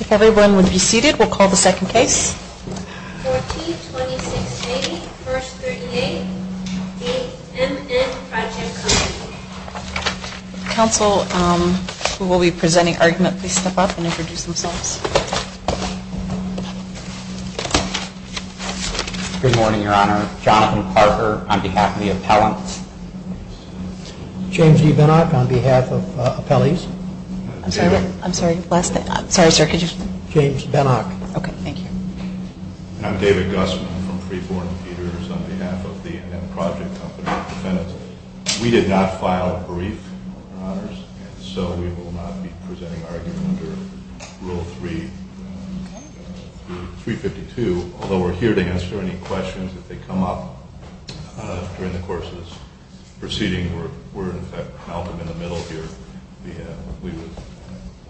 If everyone would be seated, we'll call the second case. 14-2680, First 38, NMN Project Company Council, who will be presenting argument, please step up and introduce themselves. Good morning, Your Honor. Jonathan Parker on behalf of the appellants. James E. Binnock on behalf of the appellees. I'm sorry, last name? I'm sorry, sir, could you? James Binnock. Okay, thank you. I'm David Gusman from Freeborn Peters on behalf of the NM Project Company. We did not file a brief, Your Honors, and so we will not be presenting argument under Rule 352, although we're here to answer any questions that come up during the course of this proceeding. We're, in fact, out in the middle here. We would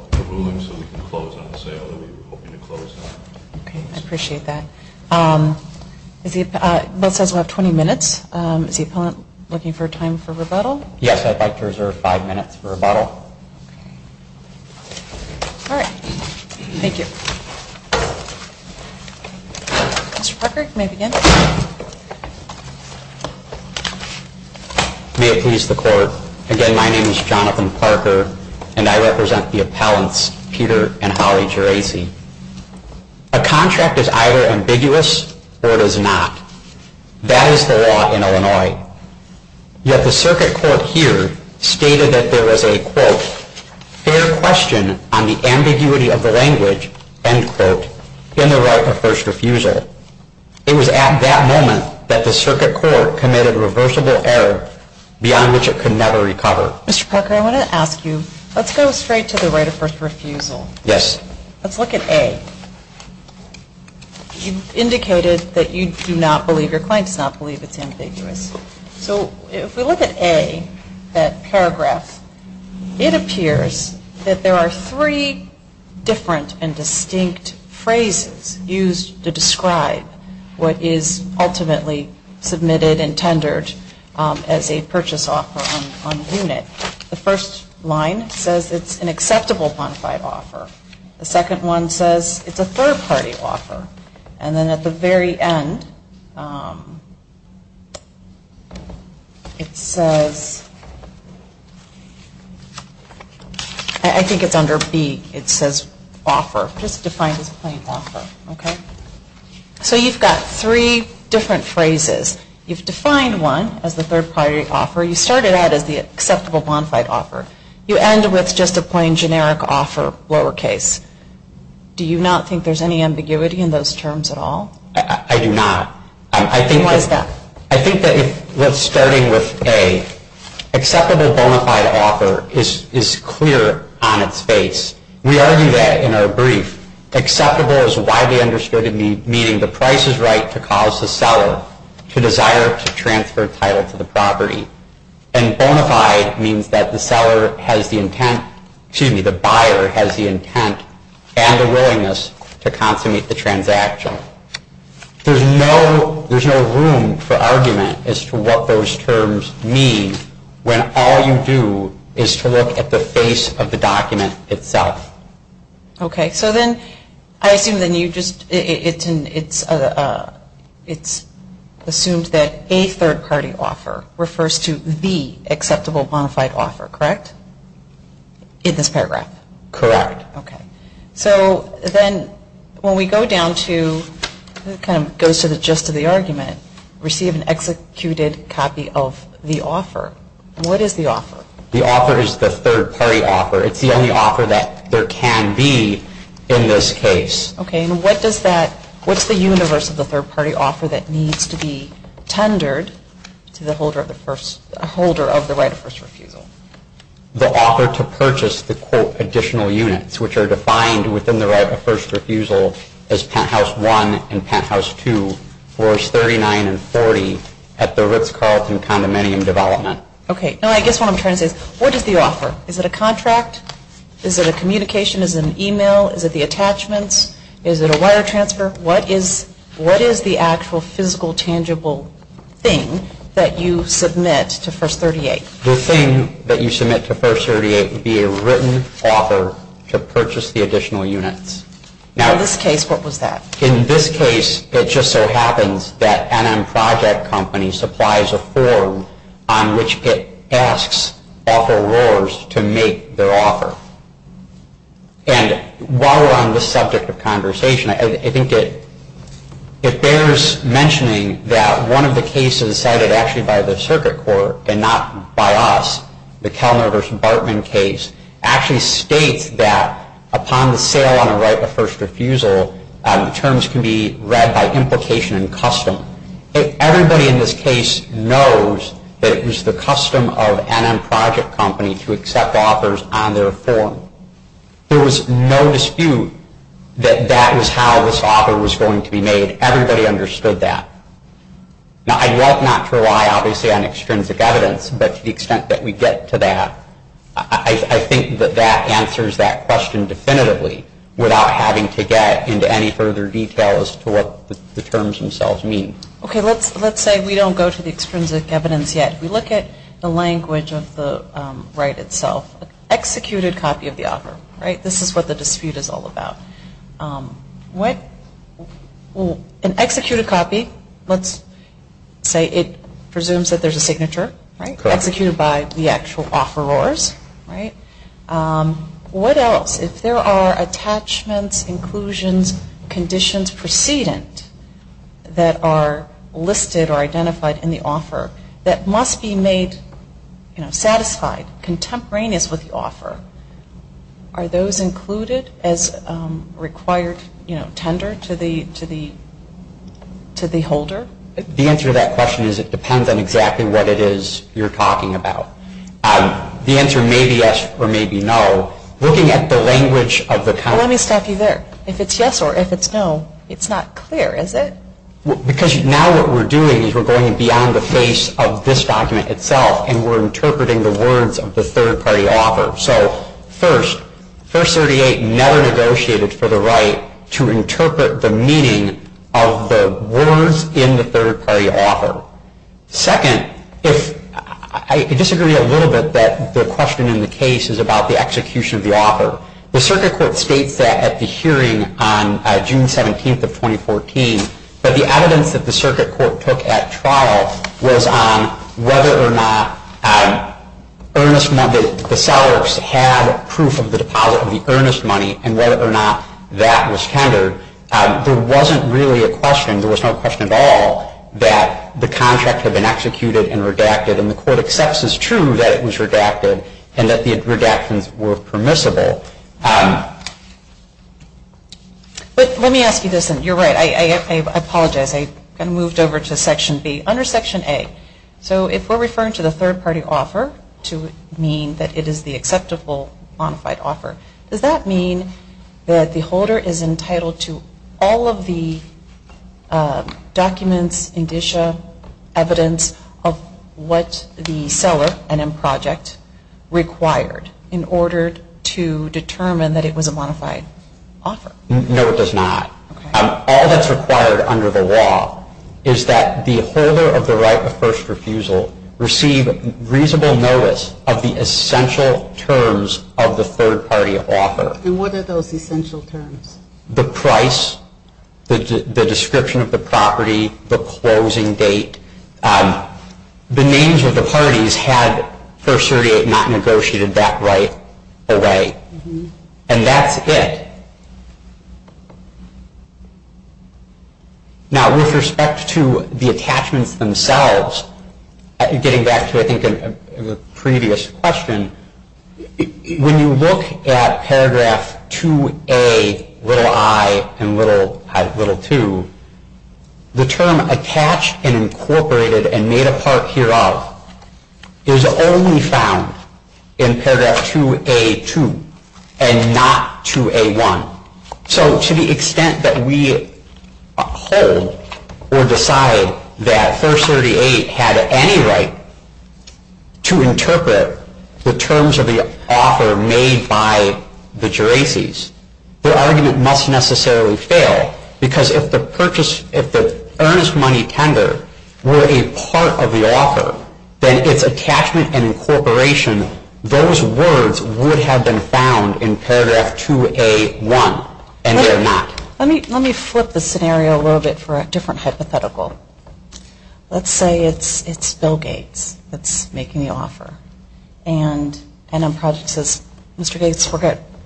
like a ruling so we can close on the sale that we were hoping to close on. Okay, I appreciate that. The bill says we'll have 20 minutes. Is the appellant looking for time for rebuttal? Yes, I'd like to reserve five minutes for rebuttal. All right, thank you. Mr. Parker, you may begin. May it please the Court. Again, my name is Jonathan Parker, and I represent the appellants Peter and Holly Geraci. A contract is either ambiguous or it is not. That is the law in Illinois. Yet the circuit court here stated that there was a, quote, fair question on the ambiguity of the language, end quote, in the right of first refusal. It was at that moment that the circuit court committed a reversible error beyond which it could never recover. Mr. Parker, I want to ask you, let's go straight to the right of first refusal. Yes. Let's look at A. You indicated that you do not believe, your client does not believe it's ambiguous. So if we look at A, that paragraph, it appears that there are three different and distinct phrases used to describe what is ultimately submitted and tendered as a purchase offer on the unit. The first line says it's an acceptable bonafide offer. The second one says it's a third-party offer. And then at the very end, it says, I think it's under B, it says offer, just defined as a plain offer. So you've got three different phrases. You've defined one as the third-party offer. You started out as the acceptable bonafide offer. You end with just a plain generic offer, lowercase. Do you not think there's any ambiguity in those terms at all? I do not. Why is that? I think that if we're starting with A, acceptable bonafide offer is clear on its face. We argue that in our brief. Acceptable is widely understood meaning the price is right to cause the seller to desire to transfer title to the property. And bonafide means that the buyer has the intent and the willingness to consummate the transaction. There's no room for argument as to what those terms mean when all you do is to look at the face of the document itself. Okay, so then I assume that you just, it's assumed that a third-party offer refers to the acceptable bonafide offer, correct? In this paragraph? Correct. Okay. So then when we go down to, it kind of goes to the gist of the argument, receive an executed copy of the offer. What is the offer? The offer is the third-party offer. It's the only offer that there can be in this case. Okay, and what does that, what's the universe of the third-party offer that needs to be tendered to the holder of the right of first refusal? The offer to purchase the quote additional units which are defined within the right of first refusal as penthouse one and penthouse two, floors 39 and 40 at the Ritz Carlton condominium development. Okay, now I guess what I'm trying to say is what is the offer? Is it a contract? Is it a communication? Is it an email? Is it the attachments? Is it a wire transfer? What is the actual physical tangible thing that you submit to first 38? The thing that you submit to first 38 would be a written offer to purchase the additional units. Now in this case, what was that? In this case, it just so happens that NM Project Company supplies a form on which it asks offerors to make their offer. And while we're on the subject of conversation, I think it bears mentioning that one of the cases cited actually by the circuit court and not by us, the Kellner v. Bartman case, actually states that upon the sale on a right of first refusal, terms can be read by implication and custom. Everybody in this case knows that it was the custom of NM Project Company to accept offers on their form. There was no dispute that that was how this offer was going to be made. Everybody understood that. Now I'd love not to rely, obviously, on extrinsic evidence, but to the extent that we get to that, I think that that answers that question definitively without having to get into any further detail as to what the terms themselves mean. Okay, let's say we don't go to the extrinsic evidence yet. We look at the language of the right itself. Executed copy of the offer, right? This is what the dispute is all about. An executed copy, let's say it presumes that there's a signature, right? Executed by the actual offerors, right? What else? If there are attachments, inclusions, conditions precedent that are listed or identified in the offer that must be made, you know, required tender to the holder? The answer to that question is it depends on exactly what it is you're talking about. The answer may be yes or may be no. Looking at the language of the company. Let me stop you there. If it's yes or if it's no, it's not clear, is it? Because now what we're doing is we're going beyond the face of this document itself and we're interpreting the words of the third-party offer. So first, First 38 never negotiated for the right to interpret the meaning of the words in the third-party offer. Second, I disagree a little bit that the question in the case is about the execution of the offer. The circuit court states that at the hearing on June 17th of 2014, that the evidence that the circuit court took at trial was on whether or not the sellers had proof of the deposit of the earnest money and whether or not that was tendered. There wasn't really a question. There was no question at all that the contract had been executed and redacted. And the court accepts as true that it was redacted and that the redactions were permissible. But let me ask you this, and you're right. I apologize. I kind of moved over to Section B. Under Section A, so if we're referring to the third-party offer to mean that it is the acceptable modified offer, does that mean that the holder is entitled to all of the documents, indicia, evidence of what the seller, and in project, required in order to determine that it was a modified offer? No, it does not. All that's required under the law is that the holder of the right of first refusal receive reasonable notice of the essential terms of the third-party offer. And what are those essential terms? The price, the description of the property, the closing date. The names of the parties had First 38 not negotiated that right away. And that's it. Now, with respect to the attachments themselves, getting back to, I think, a previous question, when you look at paragraph 2A, little i, and little i, little 2, the term attached and incorporated and made a part hereof is only found in paragraph 2A2 and not 2A1. So to the extent that we hold or decide that First 38 had any right to interpret the terms of the offer made by the Geraces, the argument must necessarily fail because if the purchase, if the earnest money tender were a part of the offer, then its attachment and incorporation, those words would have been found in paragraph 2A1, and they're not. Let me flip the scenario a little bit for a different hypothetical. Let's say it's Bill Gates that's making the offer. And NM Project says, Mr. Gates,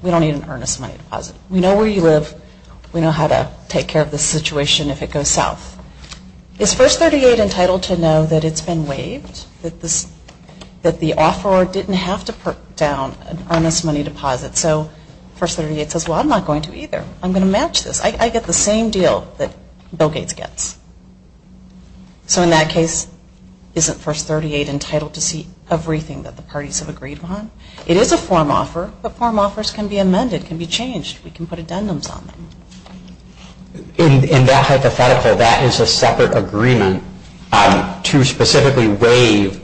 we don't need an earnest money deposit. We know where you live. We know how to take care of this situation if it goes south. Is First 38 entitled to know that it's been waived, that the offeror didn't have to put down an earnest money deposit? So First 38 says, well, I'm not going to either. I'm going to match this. I get the same deal that Bill Gates gets. So in that case, isn't First 38 entitled to see everything that the parties have agreed upon? It is a form offer, but form offers can be amended, can be changed. We can put addendums on them. In that hypothetical, that is a separate agreement to specifically waive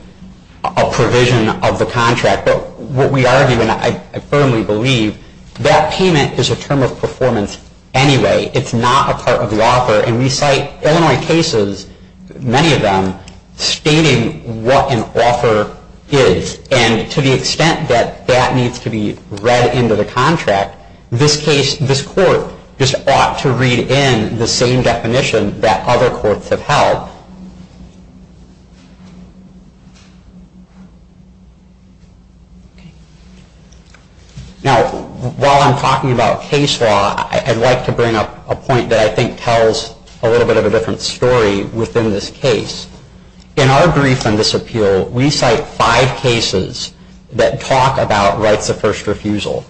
a provision of the contract. But what we argue, and I firmly believe, that payment is a term of performance anyway. It's not a part of the offer. And we cite Illinois cases, many of them, stating what an offer is. And to the extent that that needs to be read into the contract, this court just ought to read in the same definition that other courts have held. Now, while I'm talking about case law, I'd like to bring up a point that I think tells a little bit of a different story within this case. In our brief on this appeal, we cite five cases that talk about rights of first refusal,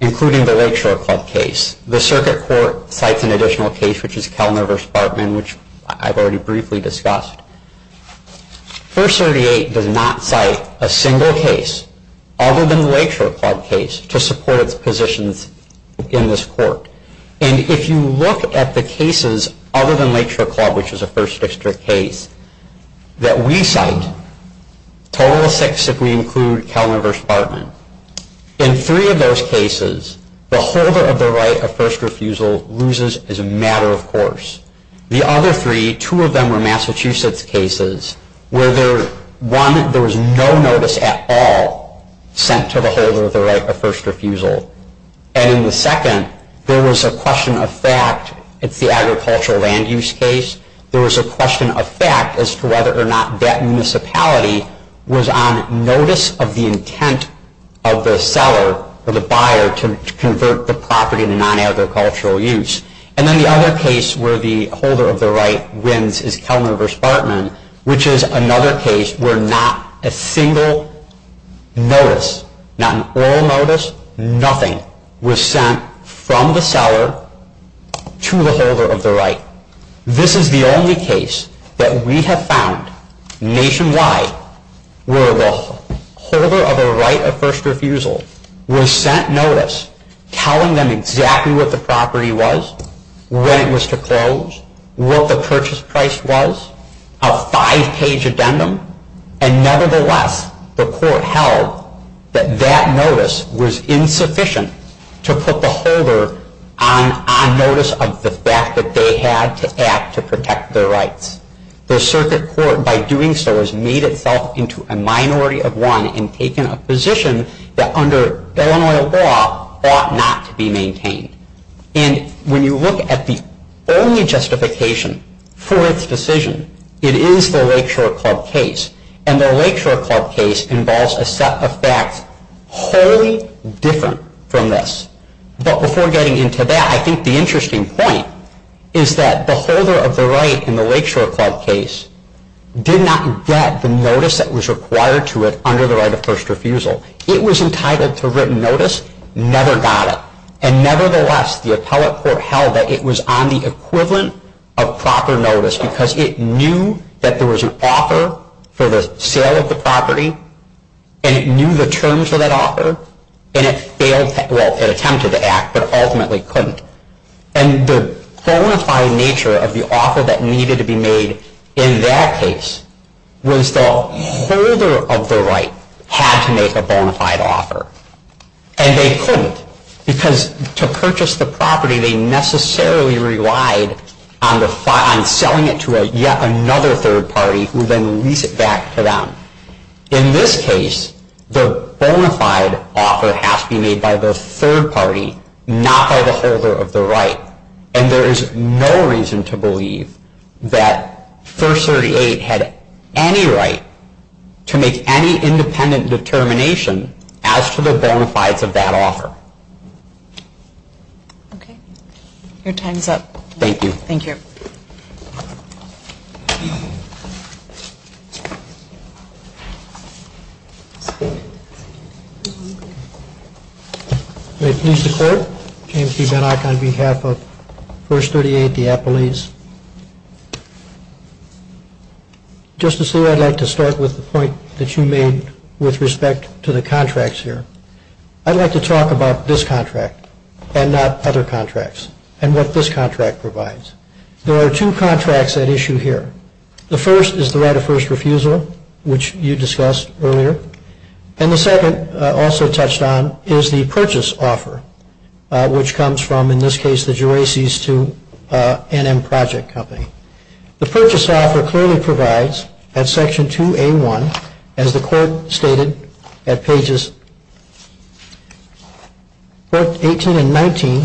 including the Lakeshore Club case. The Circuit Court cites an additional case, which is Kellner v. Bartman, which I've already briefly discussed. First 38 does not cite a single case, other than the Lakeshore Club case, to support its positions in this court. And if you look at the cases other than Lakeshore Club, which is a first district case, that we cite, total of six if we include Kellner v. Bartman. In three of those cases, the holder of the right of first refusal loses as a matter of course. The other three, two of them were Massachusetts cases, where one, there was no notice at all sent to the holder of the right of first refusal. And in the second, there was a question of fact. It's the agricultural land use case. There was a question of fact as to whether or not that municipality was on notice of the intent of the seller or the buyer to convert the property to non-agricultural use. And then the other case where the holder of the right wins is Kellner v. Bartman, which is another case where not a single notice, not an oral notice, nothing was sent from the seller to the holder of the right. This is the only case that we have found nationwide where the holder of a right of first refusal was sent notice telling them exactly what the property was, when it was to close, what the purchase price was, a five-page addendum. And nevertheless, the court held that that notice was insufficient to put the holder on notice of the fact that they had to act to protect their rights. The circuit court, by doing so, has made itself into a minority of one and taken a position that under Illinois law ought not to be maintained. And when you look at the only justification for its decision, it is the Lakeshore Club case. And the Lakeshore Club case involves a set of facts wholly different from this. But before getting into that, I think the interesting point is that the holder of the right in the Lakeshore Club case did not get the notice that was required to it under the right of first refusal. It was entitled to written notice, never got it. And nevertheless, the appellate court held that it was on the equivalent of proper notice because it knew that there was an offer for the sale of the property, and it knew the terms of that offer, and it attempted to act but ultimately couldn't. And the bona fide nature of the offer that needed to be made in that case was the holder of the right had to make a bona fide offer. And they couldn't because to purchase the property, they necessarily relied on selling it to yet another third party who would then lease it back to them. In this case, the bona fide offer has to be made by the third party, not by the holder of the right. And there is no reason to believe that First 38 had any right to make any independent determination as to the bona fides of that offer. Okay. Your time is up. Thank you. Thank you. Thank you. May it please the Court. James E. Benak on behalf of First 38, the Appellees. Justice Lee, I'd like to start with the point that you made with respect to the contracts here. I'd like to talk about this contract and not other contracts and what this contract provides. There are two contracts at issue here. The first is the right of first refusal, which you discussed earlier. And the second, also touched on, is the purchase offer, which comes from, in this case, the Geraces to NM Project Company. The purchase offer clearly provides, at Section 2A1, as the Court stated at pages 18 and 19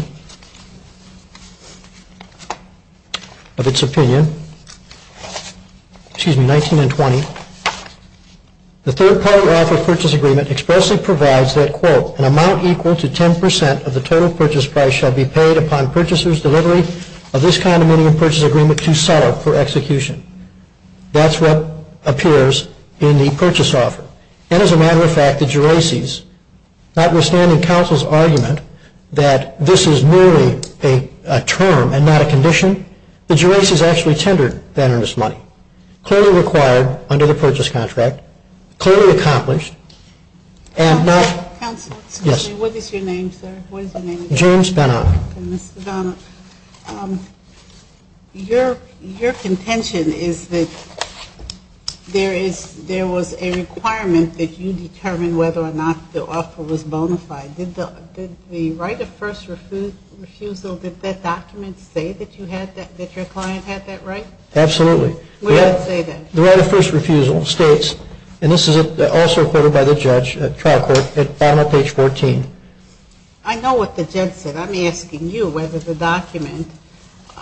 of its opinion, excuse me, 19 and 20, the third-party offer purchase agreement expressly provides that, quote, That's what appears in the purchase offer. And as a matter of fact, the Geraces, notwithstanding counsel's argument that this is merely a term and not a condition, the Geraces actually tendered that earnest money, clearly required under the purchase contract, clearly accomplished, and not... Counsel, excuse me, what is your name, sir? James Benak. Mr. Benak, your contention is that there was a requirement that you determine whether or not the offer was bona fide. Did the right of first refusal, did that document say that your client had that right? Absolutely. Where does it say that? The right of first refusal states, and this is also quoted by the judge at trial court at the bottom of page 14. I know what the judge said. I'm asking you whether the document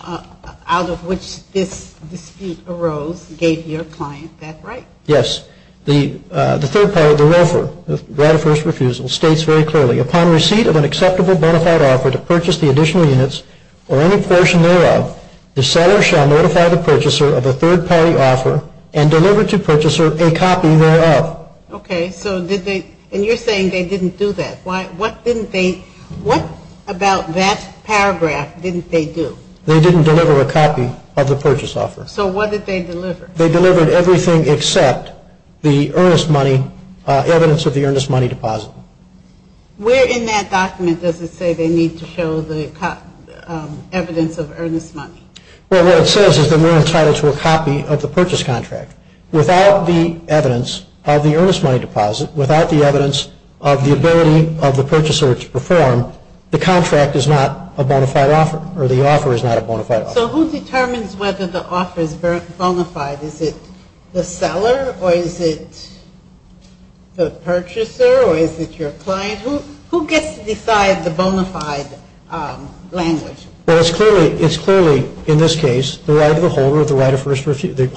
out of which this dispute arose gave your client that right. Yes. The third-party, the ROFR, the right of first refusal, states very clearly, Upon receipt of an acceptable bona fide offer to purchase the additional units or any portion thereof, the seller shall notify the purchaser of a third-party offer and deliver to purchaser a copy thereof. Okay. So did they, and you're saying they didn't do that. What didn't they, what about that paragraph didn't they do? They didn't deliver a copy of the purchase offer. So what did they deliver? They delivered everything except the earnest money, evidence of the earnest money deposit. Where in that document does it say they need to show the evidence of earnest money? Well, what it says is that we're entitled to a copy of the purchase contract. Without the evidence of the earnest money deposit, without the evidence of the ability of the purchaser to perform, the contract is not a bona fide offer or the offer is not a bona fide offer. So who determines whether the offer is bona fide? Is it the seller or is it the purchaser or is it your client? Who gets to decide the bona fide language? Well, it's clearly, in this case, the right of the holder of the right of first refusal.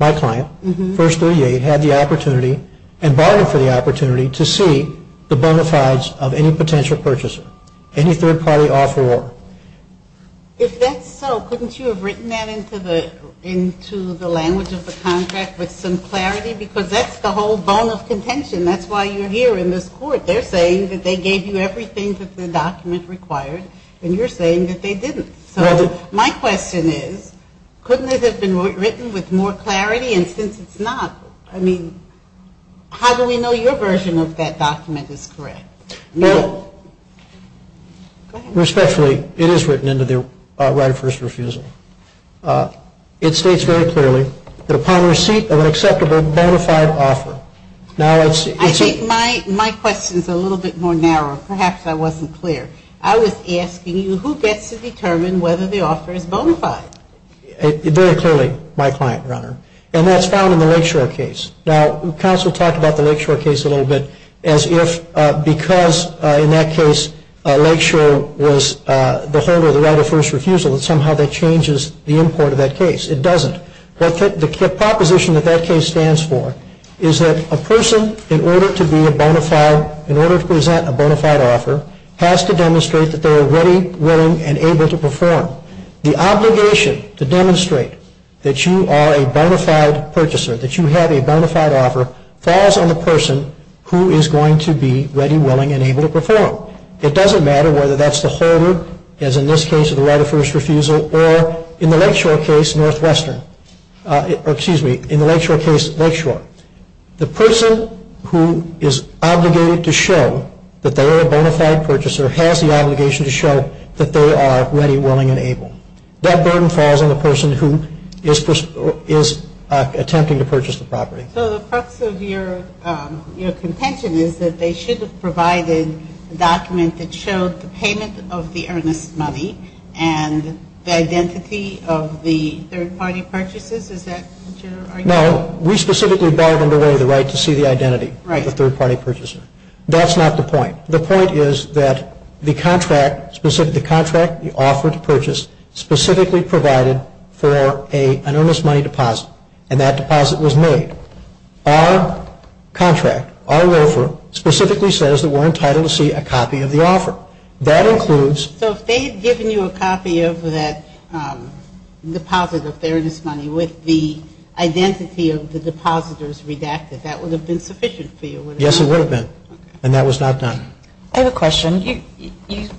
My client, 138, had the opportunity and bargained for the opportunity to see the bona fides of any potential purchaser, any third-party offeror. If that's so, couldn't you have written that into the language of the contract with some clarity? Because that's the whole bone of contention. That's why you're here in this court. They're saying that they gave you everything that the document required, and you're saying that they didn't. So my question is, couldn't it have been written with more clarity? And since it's not, I mean, how do we know your version of that document is correct? Respectfully, it is written into the right of first refusal. It states very clearly that upon receipt of an acceptable bona fide offer. I think my question is a little bit more narrow. Perhaps I wasn't clear. I was asking you, who gets to determine whether the offer is bona fide? Very clearly, my client, Your Honor. And that's found in the Lakeshore case. Now, counsel talked about the Lakeshore case a little bit as if because, in that case, Lakeshore was the holder of the right of first refusal, that somehow that changes the import of that case. It doesn't. The proposition that that case stands for is that a person, in order to be a bona fide, in order to present a bona fide offer, has to demonstrate that they are ready, willing, and able to perform. The obligation to demonstrate that you are a bona fide purchaser, that you have a bona fide offer, falls on the person who is going to be ready, willing, and able to perform. It doesn't matter whether that's the holder, as in this case, of the right of first refusal, or in the Lakeshore case, Northwestern, or excuse me, in the Lakeshore case, Lakeshore. The person who is obligated to show that they are a bona fide purchaser has the obligation to show that they are ready, willing, and able. That burden falls on the person who is attempting to purchase the property. So the crux of your contention is that they should have provided a document that showed the payment of the earnest money and the identity of the third-party purchasers. Is that what you're arguing? No. We specifically barred under way the right to see the identity of the third-party purchaser. That's not the point. The point is that the contract, the offer to purchase, specifically provided for an earnest money deposit, and that deposit was made. Our contract, our offer, specifically says that we're entitled to see a copy of the offer. So if they had given you a copy of that deposit of the earnest money with the identity of the depositors redacted, that would have been sufficient for you? Yes, it would have been. And that was not done. I have a question.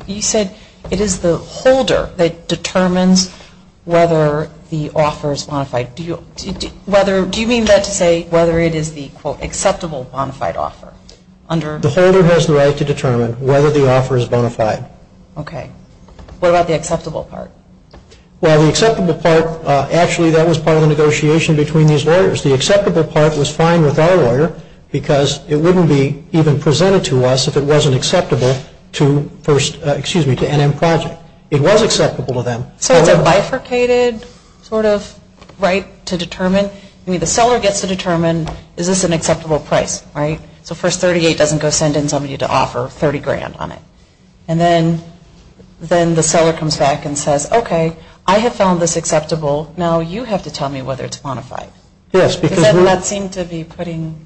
You said it is the holder that determines whether the offer is bona fide. Do you mean that to say whether it is the acceptable bona fide offer? The holder has the right to determine whether the offer is bona fide. Okay. What about the acceptable part? Well, the acceptable part, actually that was part of the negotiation between these lawyers. The acceptable part was fine with our lawyer because it wouldn't be even presented to us if it wasn't acceptable to NM Project. It was acceptable to them. So it's a bifurcated sort of right to determine? I mean, the seller gets to determine is this an acceptable price, right? So first 38 doesn't go send in somebody to offer 30 grand on it. And then the seller comes back and says, okay, I have found this acceptable. Now you have to tell me whether it's bona fide. Does that not seem to be putting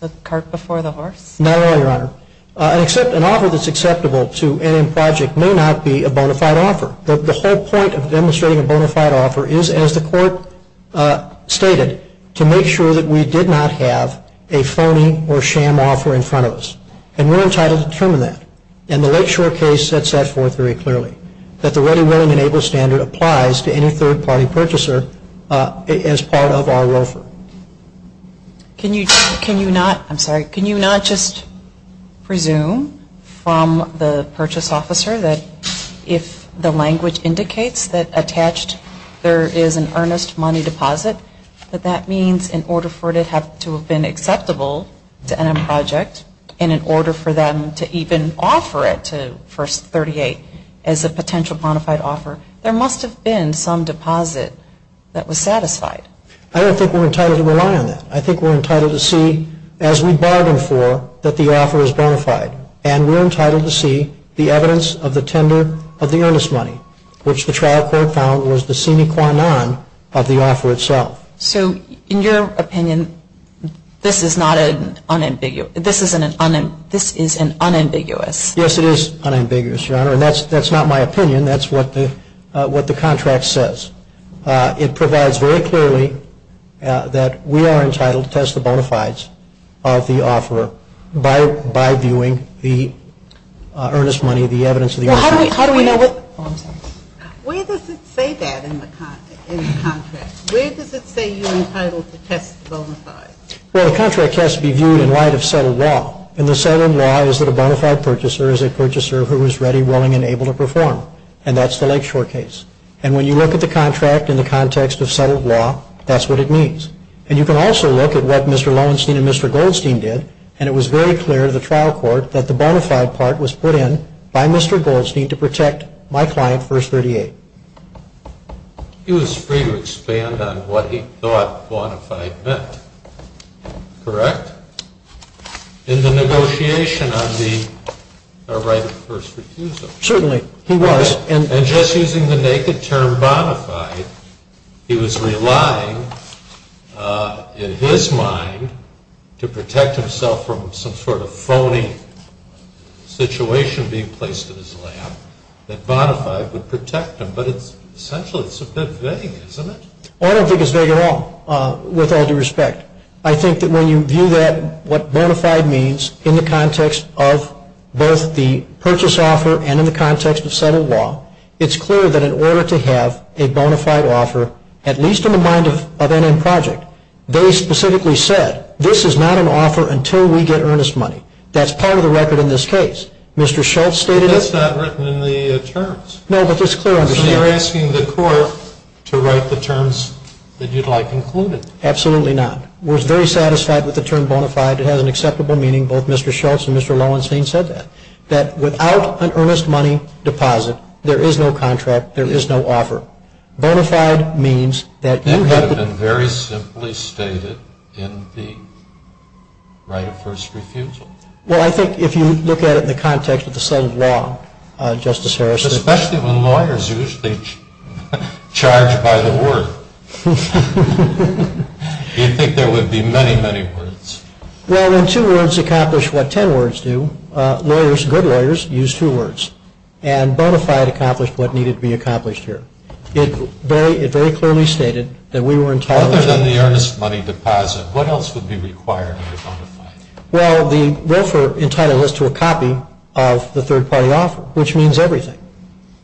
the cart before the horse? Not at all, Your Honor. An offer that's acceptable to NM Project may not be a bona fide offer. The whole point of demonstrating a bona fide offer is, as the Court stated, to make sure that we did not have a phony or sham offer in front of us. And we're entitled to determine that. And the Lakeshore case sets that forth very clearly, that the ready, willing, and able standard applies to any third-party purchaser as part of our ROFR. Can you not just presume from the purchase officer that if the language indicates that attached there is an earnest money deposit, that that means in order for it to have been acceptable to NM Project, and in order for them to even offer it to First 38 as a potential bona fide offer, there must have been some deposit that was satisfied. I don't think we're entitled to rely on that. I think we're entitled to see, as we bargain for, that the offer is bona fide. And we're entitled to see the evidence of the tender of the earnest money, which the trial court found was the sine qua non of the offer itself. So in your opinion, this is an unambiguous? Yes, it is unambiguous, Your Honor. And that's not my opinion. That's what the contract says. It provides very clearly that we are entitled to test the bona fides of the offeror by viewing the earnest money, the evidence of the earnest money. Well, how do we know what? Oh, I'm sorry. Where does it say that in the contract? Where does it say you're entitled to test the bona fides? Well, the contract has to be viewed in light of settled law. And the settled law is that a bona fide purchaser is a purchaser who is ready, willing, and able to perform. And that's the Lakeshore case. And when you look at the contract in the context of settled law, that's what it means. And you can also look at what Mr. Lowenstein and Mr. Goldstein did, and it was very clear to the trial court that the bona fide part was put in by Mr. Goldstein to protect my client, First 38. He was free to expand on what he thought bona fide meant. Correct? In the negotiation on the right of first refusal. Certainly. He was. And just using the naked term bona fide, he was relying, in his mind, to protect himself from some sort of phony situation being placed in his lap, that bona fide would protect him. But essentially it's a bit vague, isn't it? I don't think it's vague at all, with all due respect. I think that when you view that, what bona fide means, in the context of both the purchase offer and in the context of settled law, it's clear that in order to have a bona fide offer, at least in the mind of N.M. Project, they specifically said, this is not an offer until we get earnest money. That's part of the record in this case. Mr. Schultz stated it. But that's not written in the terms. No, but it's clear. So you're asking the court to write the terms that you'd like included. Absolutely not. We're very satisfied with the term bona fide. It has an acceptable meaning. Both Mr. Schultz and Mr. Lowenstein said that, that without an earnest money deposit, there is no contract, there is no offer. Bona fide means that you have to- That could have been very simply stated in the right of first refusal. Well, I think if you look at it in the context of the settled law, Justice Harris- Well, then two words accomplish what ten words do. Lawyers, good lawyers, use two words. And bona fide accomplished what needed to be accomplished here. It very clearly stated that we were entitled- Other than the earnest money deposit, what else would be required in a bona fide? Well, the roofer entitled us to a copy of the third party offer, which means everything.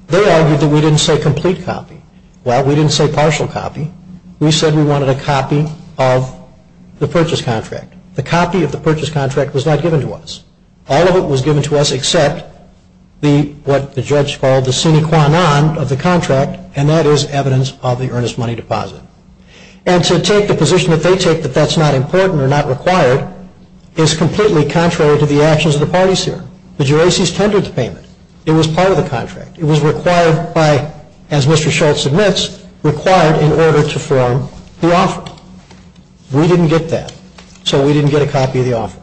They argued that we didn't say complete copy. Well, we didn't say partial copy. We said we wanted a copy of the purchase contract. The copy of the purchase contract was not given to us. All of it was given to us except what the judge called the sine qua non of the contract, and that is evidence of the earnest money deposit. And to take the position that they take that that's not important or not required is completely contrary to the actions of the parties here. The juracies tendered the payment. It was part of the contract. It was required by, as Mr. Schultz admits, required in order to form the offer. We didn't get that. So we didn't get a copy of the offer.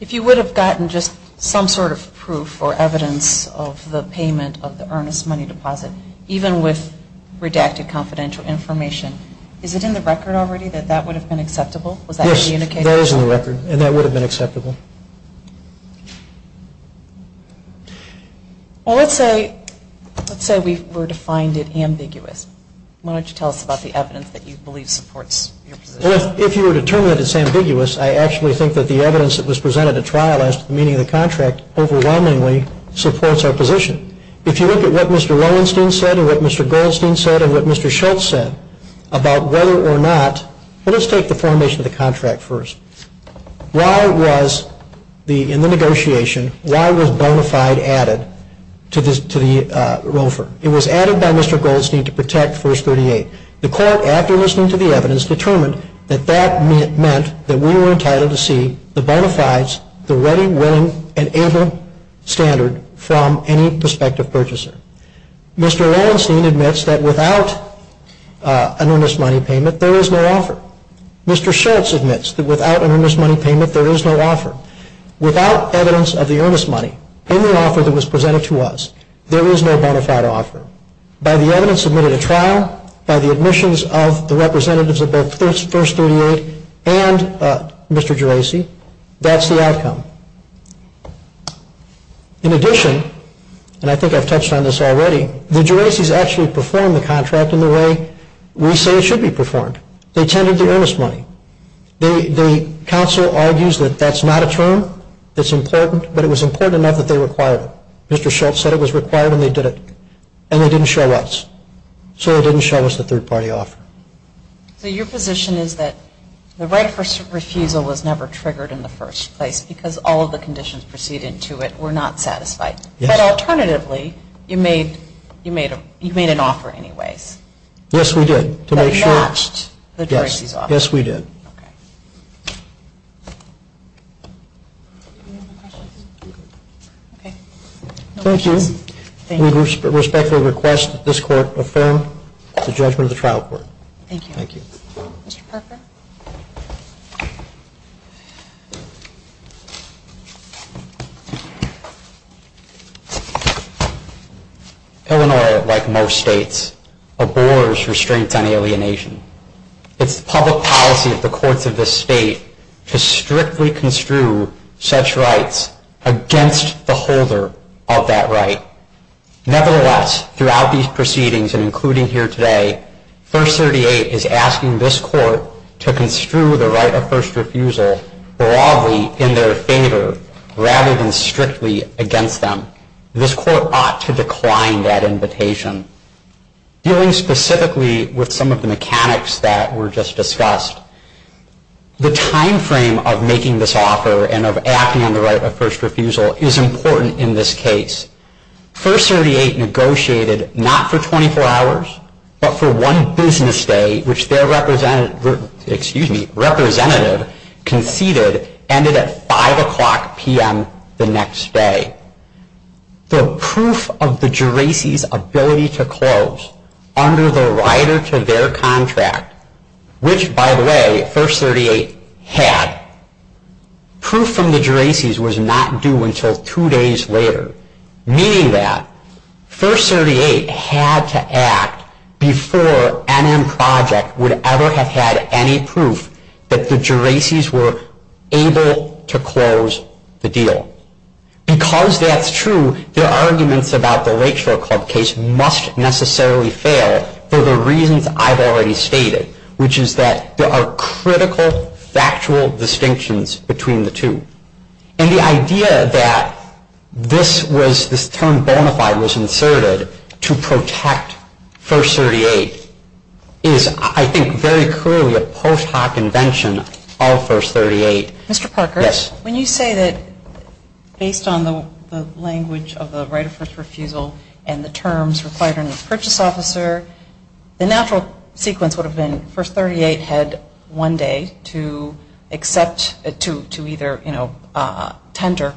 If you would have gotten just some sort of proof or evidence of the payment of the earnest money deposit, even with redacted confidential information, is it in the record already that that would have been acceptable? Yes, that is in the record, and that would have been acceptable. Well, let's say we were to find it ambiguous. Why don't you tell us about the evidence that you believe supports your position? Well, if you were to determine that it's ambiguous, I actually think that the evidence that was presented at trial as to the meaning of the contract overwhelmingly supports our position. If you look at what Mr. Lowenstein said and what Mr. Goldstein said and what Mr. Schultz said about whether or not, well, let's take the formation of the contract first. Why was, in the negotiation, why was bona fide added to the ROFR? It was added by Mr. Goldstein to protect verse 38. The court, after listening to the evidence, determined that that meant that we were entitled to see the bona fides, the ready, willing, and able standard from any prospective purchaser. Mr. Lowenstein admits that without an earnest money payment, there is no offer. Mr. Schultz admits that without an earnest money payment, there is no offer. Without evidence of the earnest money in the offer that was presented to us, there is no bona fide offer. By the evidence submitted at trial, by the admissions of the representatives of both verse 38 and Mr. Geraci, that's the outcome. In addition, and I think I've touched on this already, the Geraci's actually performed the contract in the way we say it should be performed. They tended to earnest money. The counsel argues that that's not a term that's important, but it was important enough that they required it. Mr. Schultz said it was required and they did it. And they didn't show us. So they didn't show us the third party offer. So your position is that the right of refusal was never triggered in the first place because all of the conditions preceding to it were not satisfied. Yes. But alternatively, you made an offer anyways. Yes, we did. That matched the Geraci's offer. Yes, we did. Okay. Thank you. Thank you. We respectfully request that this court affirm the judgment of the trial court. Thank you. Thank you. Mr. Parker. Thank you. Illinois, like most states, abhors restraints on alienation. It's the public policy of the courts of this state to strictly construe such rights against the holder of that right. Nevertheless, throughout these proceedings and including here today, First 38 is asking this court to construe the right of first refusal broadly in their favor rather than strictly against them. This court ought to decline that invitation. Dealing specifically with some of the mechanics that were just discussed, the time frame of making this offer and of acting on the right of first refusal is important in this case. First 38 negotiated not for 24 hours but for one business day, which their representative conceded ended at 5 o'clock p.m. the next day. The proof of the Geraci's ability to close under the rider to their contract, which, by the way, First 38 had, proof from the Geraci's was not due until two days later, meaning that First 38 had to act before NM Project would ever have had any proof that the Geraci's were able to close the deal. Because that's true, their arguments about the Lakeshore Club case must necessarily fail for the reasons I've already stated, which is that there are critical factual distinctions between the two. And the idea that this term bona fide was inserted to protect First 38 is I think very clearly a post hoc invention of First 38. Mr. Parker, when you say that based on the language of the right of first refusal and the terms required under the purchase officer, the natural sequence would have been First 38 had one day to accept, to either tender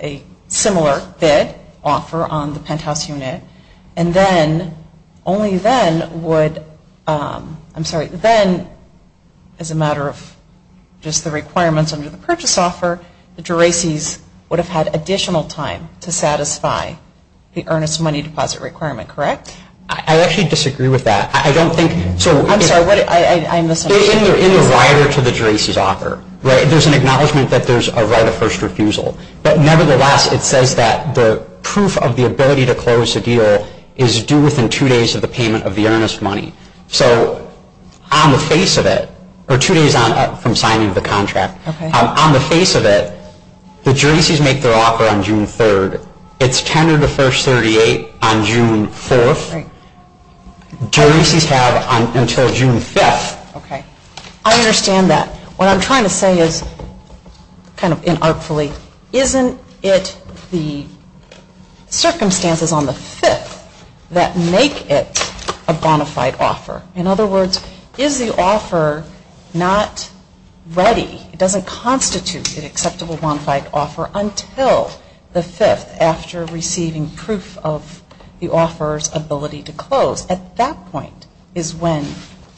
a similar bid offer on the penthouse unit, and then only then would, I'm sorry, then as a matter of just the requirements under the purchase offer, the Geraci's would have had additional time to satisfy the earnest money deposit requirement, correct? I actually disagree with that. I'm sorry, I misunderstood. In the rider to the Geraci's offer, right, there's an acknowledgement that there's a right of first refusal. But nevertheless, it says that the proof of the ability to close the deal is due within two days of the payment of the earnest money. So on the face of it, or two days from signing of the contract, on the face of it, the Geraci's make their offer on June 3rd. It's tendered to First 38 on June 4th. Geraci's have until June 5th. Okay. I understand that. What I'm trying to say is, kind of inartfully, isn't it the circumstances on the 5th that make it a bona fide offer? In other words, is the offer not ready, it doesn't constitute an acceptable bona fide offer until the 5th after receiving proof of the offeror's ability to close. At that point is when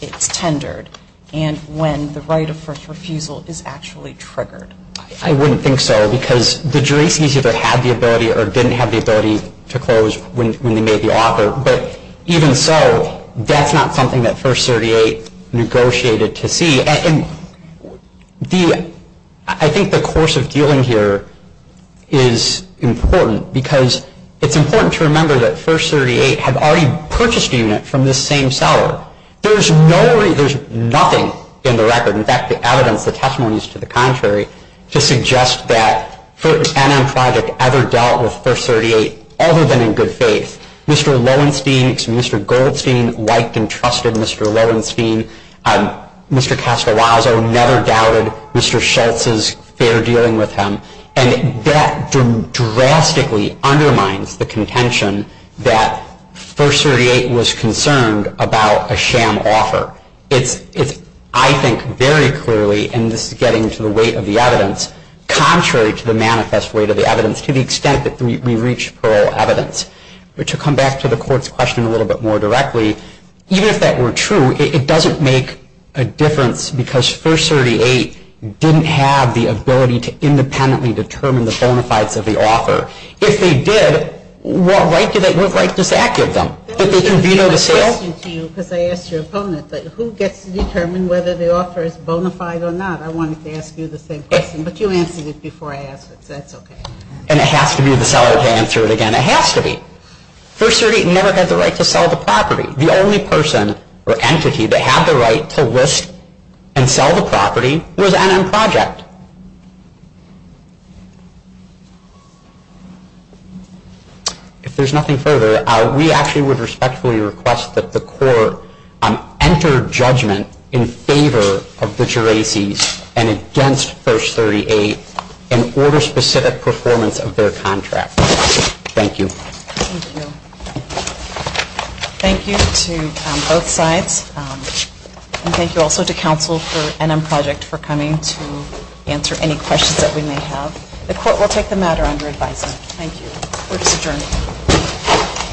it's tendered and when the right of first refusal is actually triggered. I wouldn't think so because the Geraci's either had the ability or didn't have the ability to close when they made the offer. But even so, that's not something that First 38 negotiated to see. I think the course of dealing here is important because it's important to remember that First 38 had already purchased a unit from this same seller. There's nothing in the record, in fact the evidence, the testimony is to the contrary, to suggest that an NM project ever dealt with First 38 other than in good faith. Mr. Lowenstein, Mr. Goldstein liked and trusted Mr. Lowenstein. Mr. Castellazzo never doubted Mr. Schultz's fair dealing with him. And that drastically undermines the contention that First 38 was concerned about a sham offer. It's, I think, very clearly, and this is getting to the weight of the evidence, contrary to the manifest weight of the evidence to the extent that we reach plural evidence. To come back to the court's question a little bit more directly, even if that were true, it doesn't make a difference because First 38 didn't have the ability to independently determine the bona fides of the offer. If they did, what right does that give them? That they can veto the sale? I asked your opponent, who gets to determine whether the offer is bona fide or not? I wanted to ask you the same question, but you answered it before I asked it, so that's okay. And it has to be the seller to answer it again. It has to be. First 38 never had the right to sell the property. The only person or entity that had the right to list and sell the property was NM Project. If there's nothing further, we actually would respectfully request that the court enter judgment in favor of the Geraces and against First 38 in order-specific performance of their contract. Thank you. Thank you to both sides. And thank you also to counsel for NM Project for coming to answer any questions that we may have. The court will take the matter under advisement. Thank you. Court is adjourned.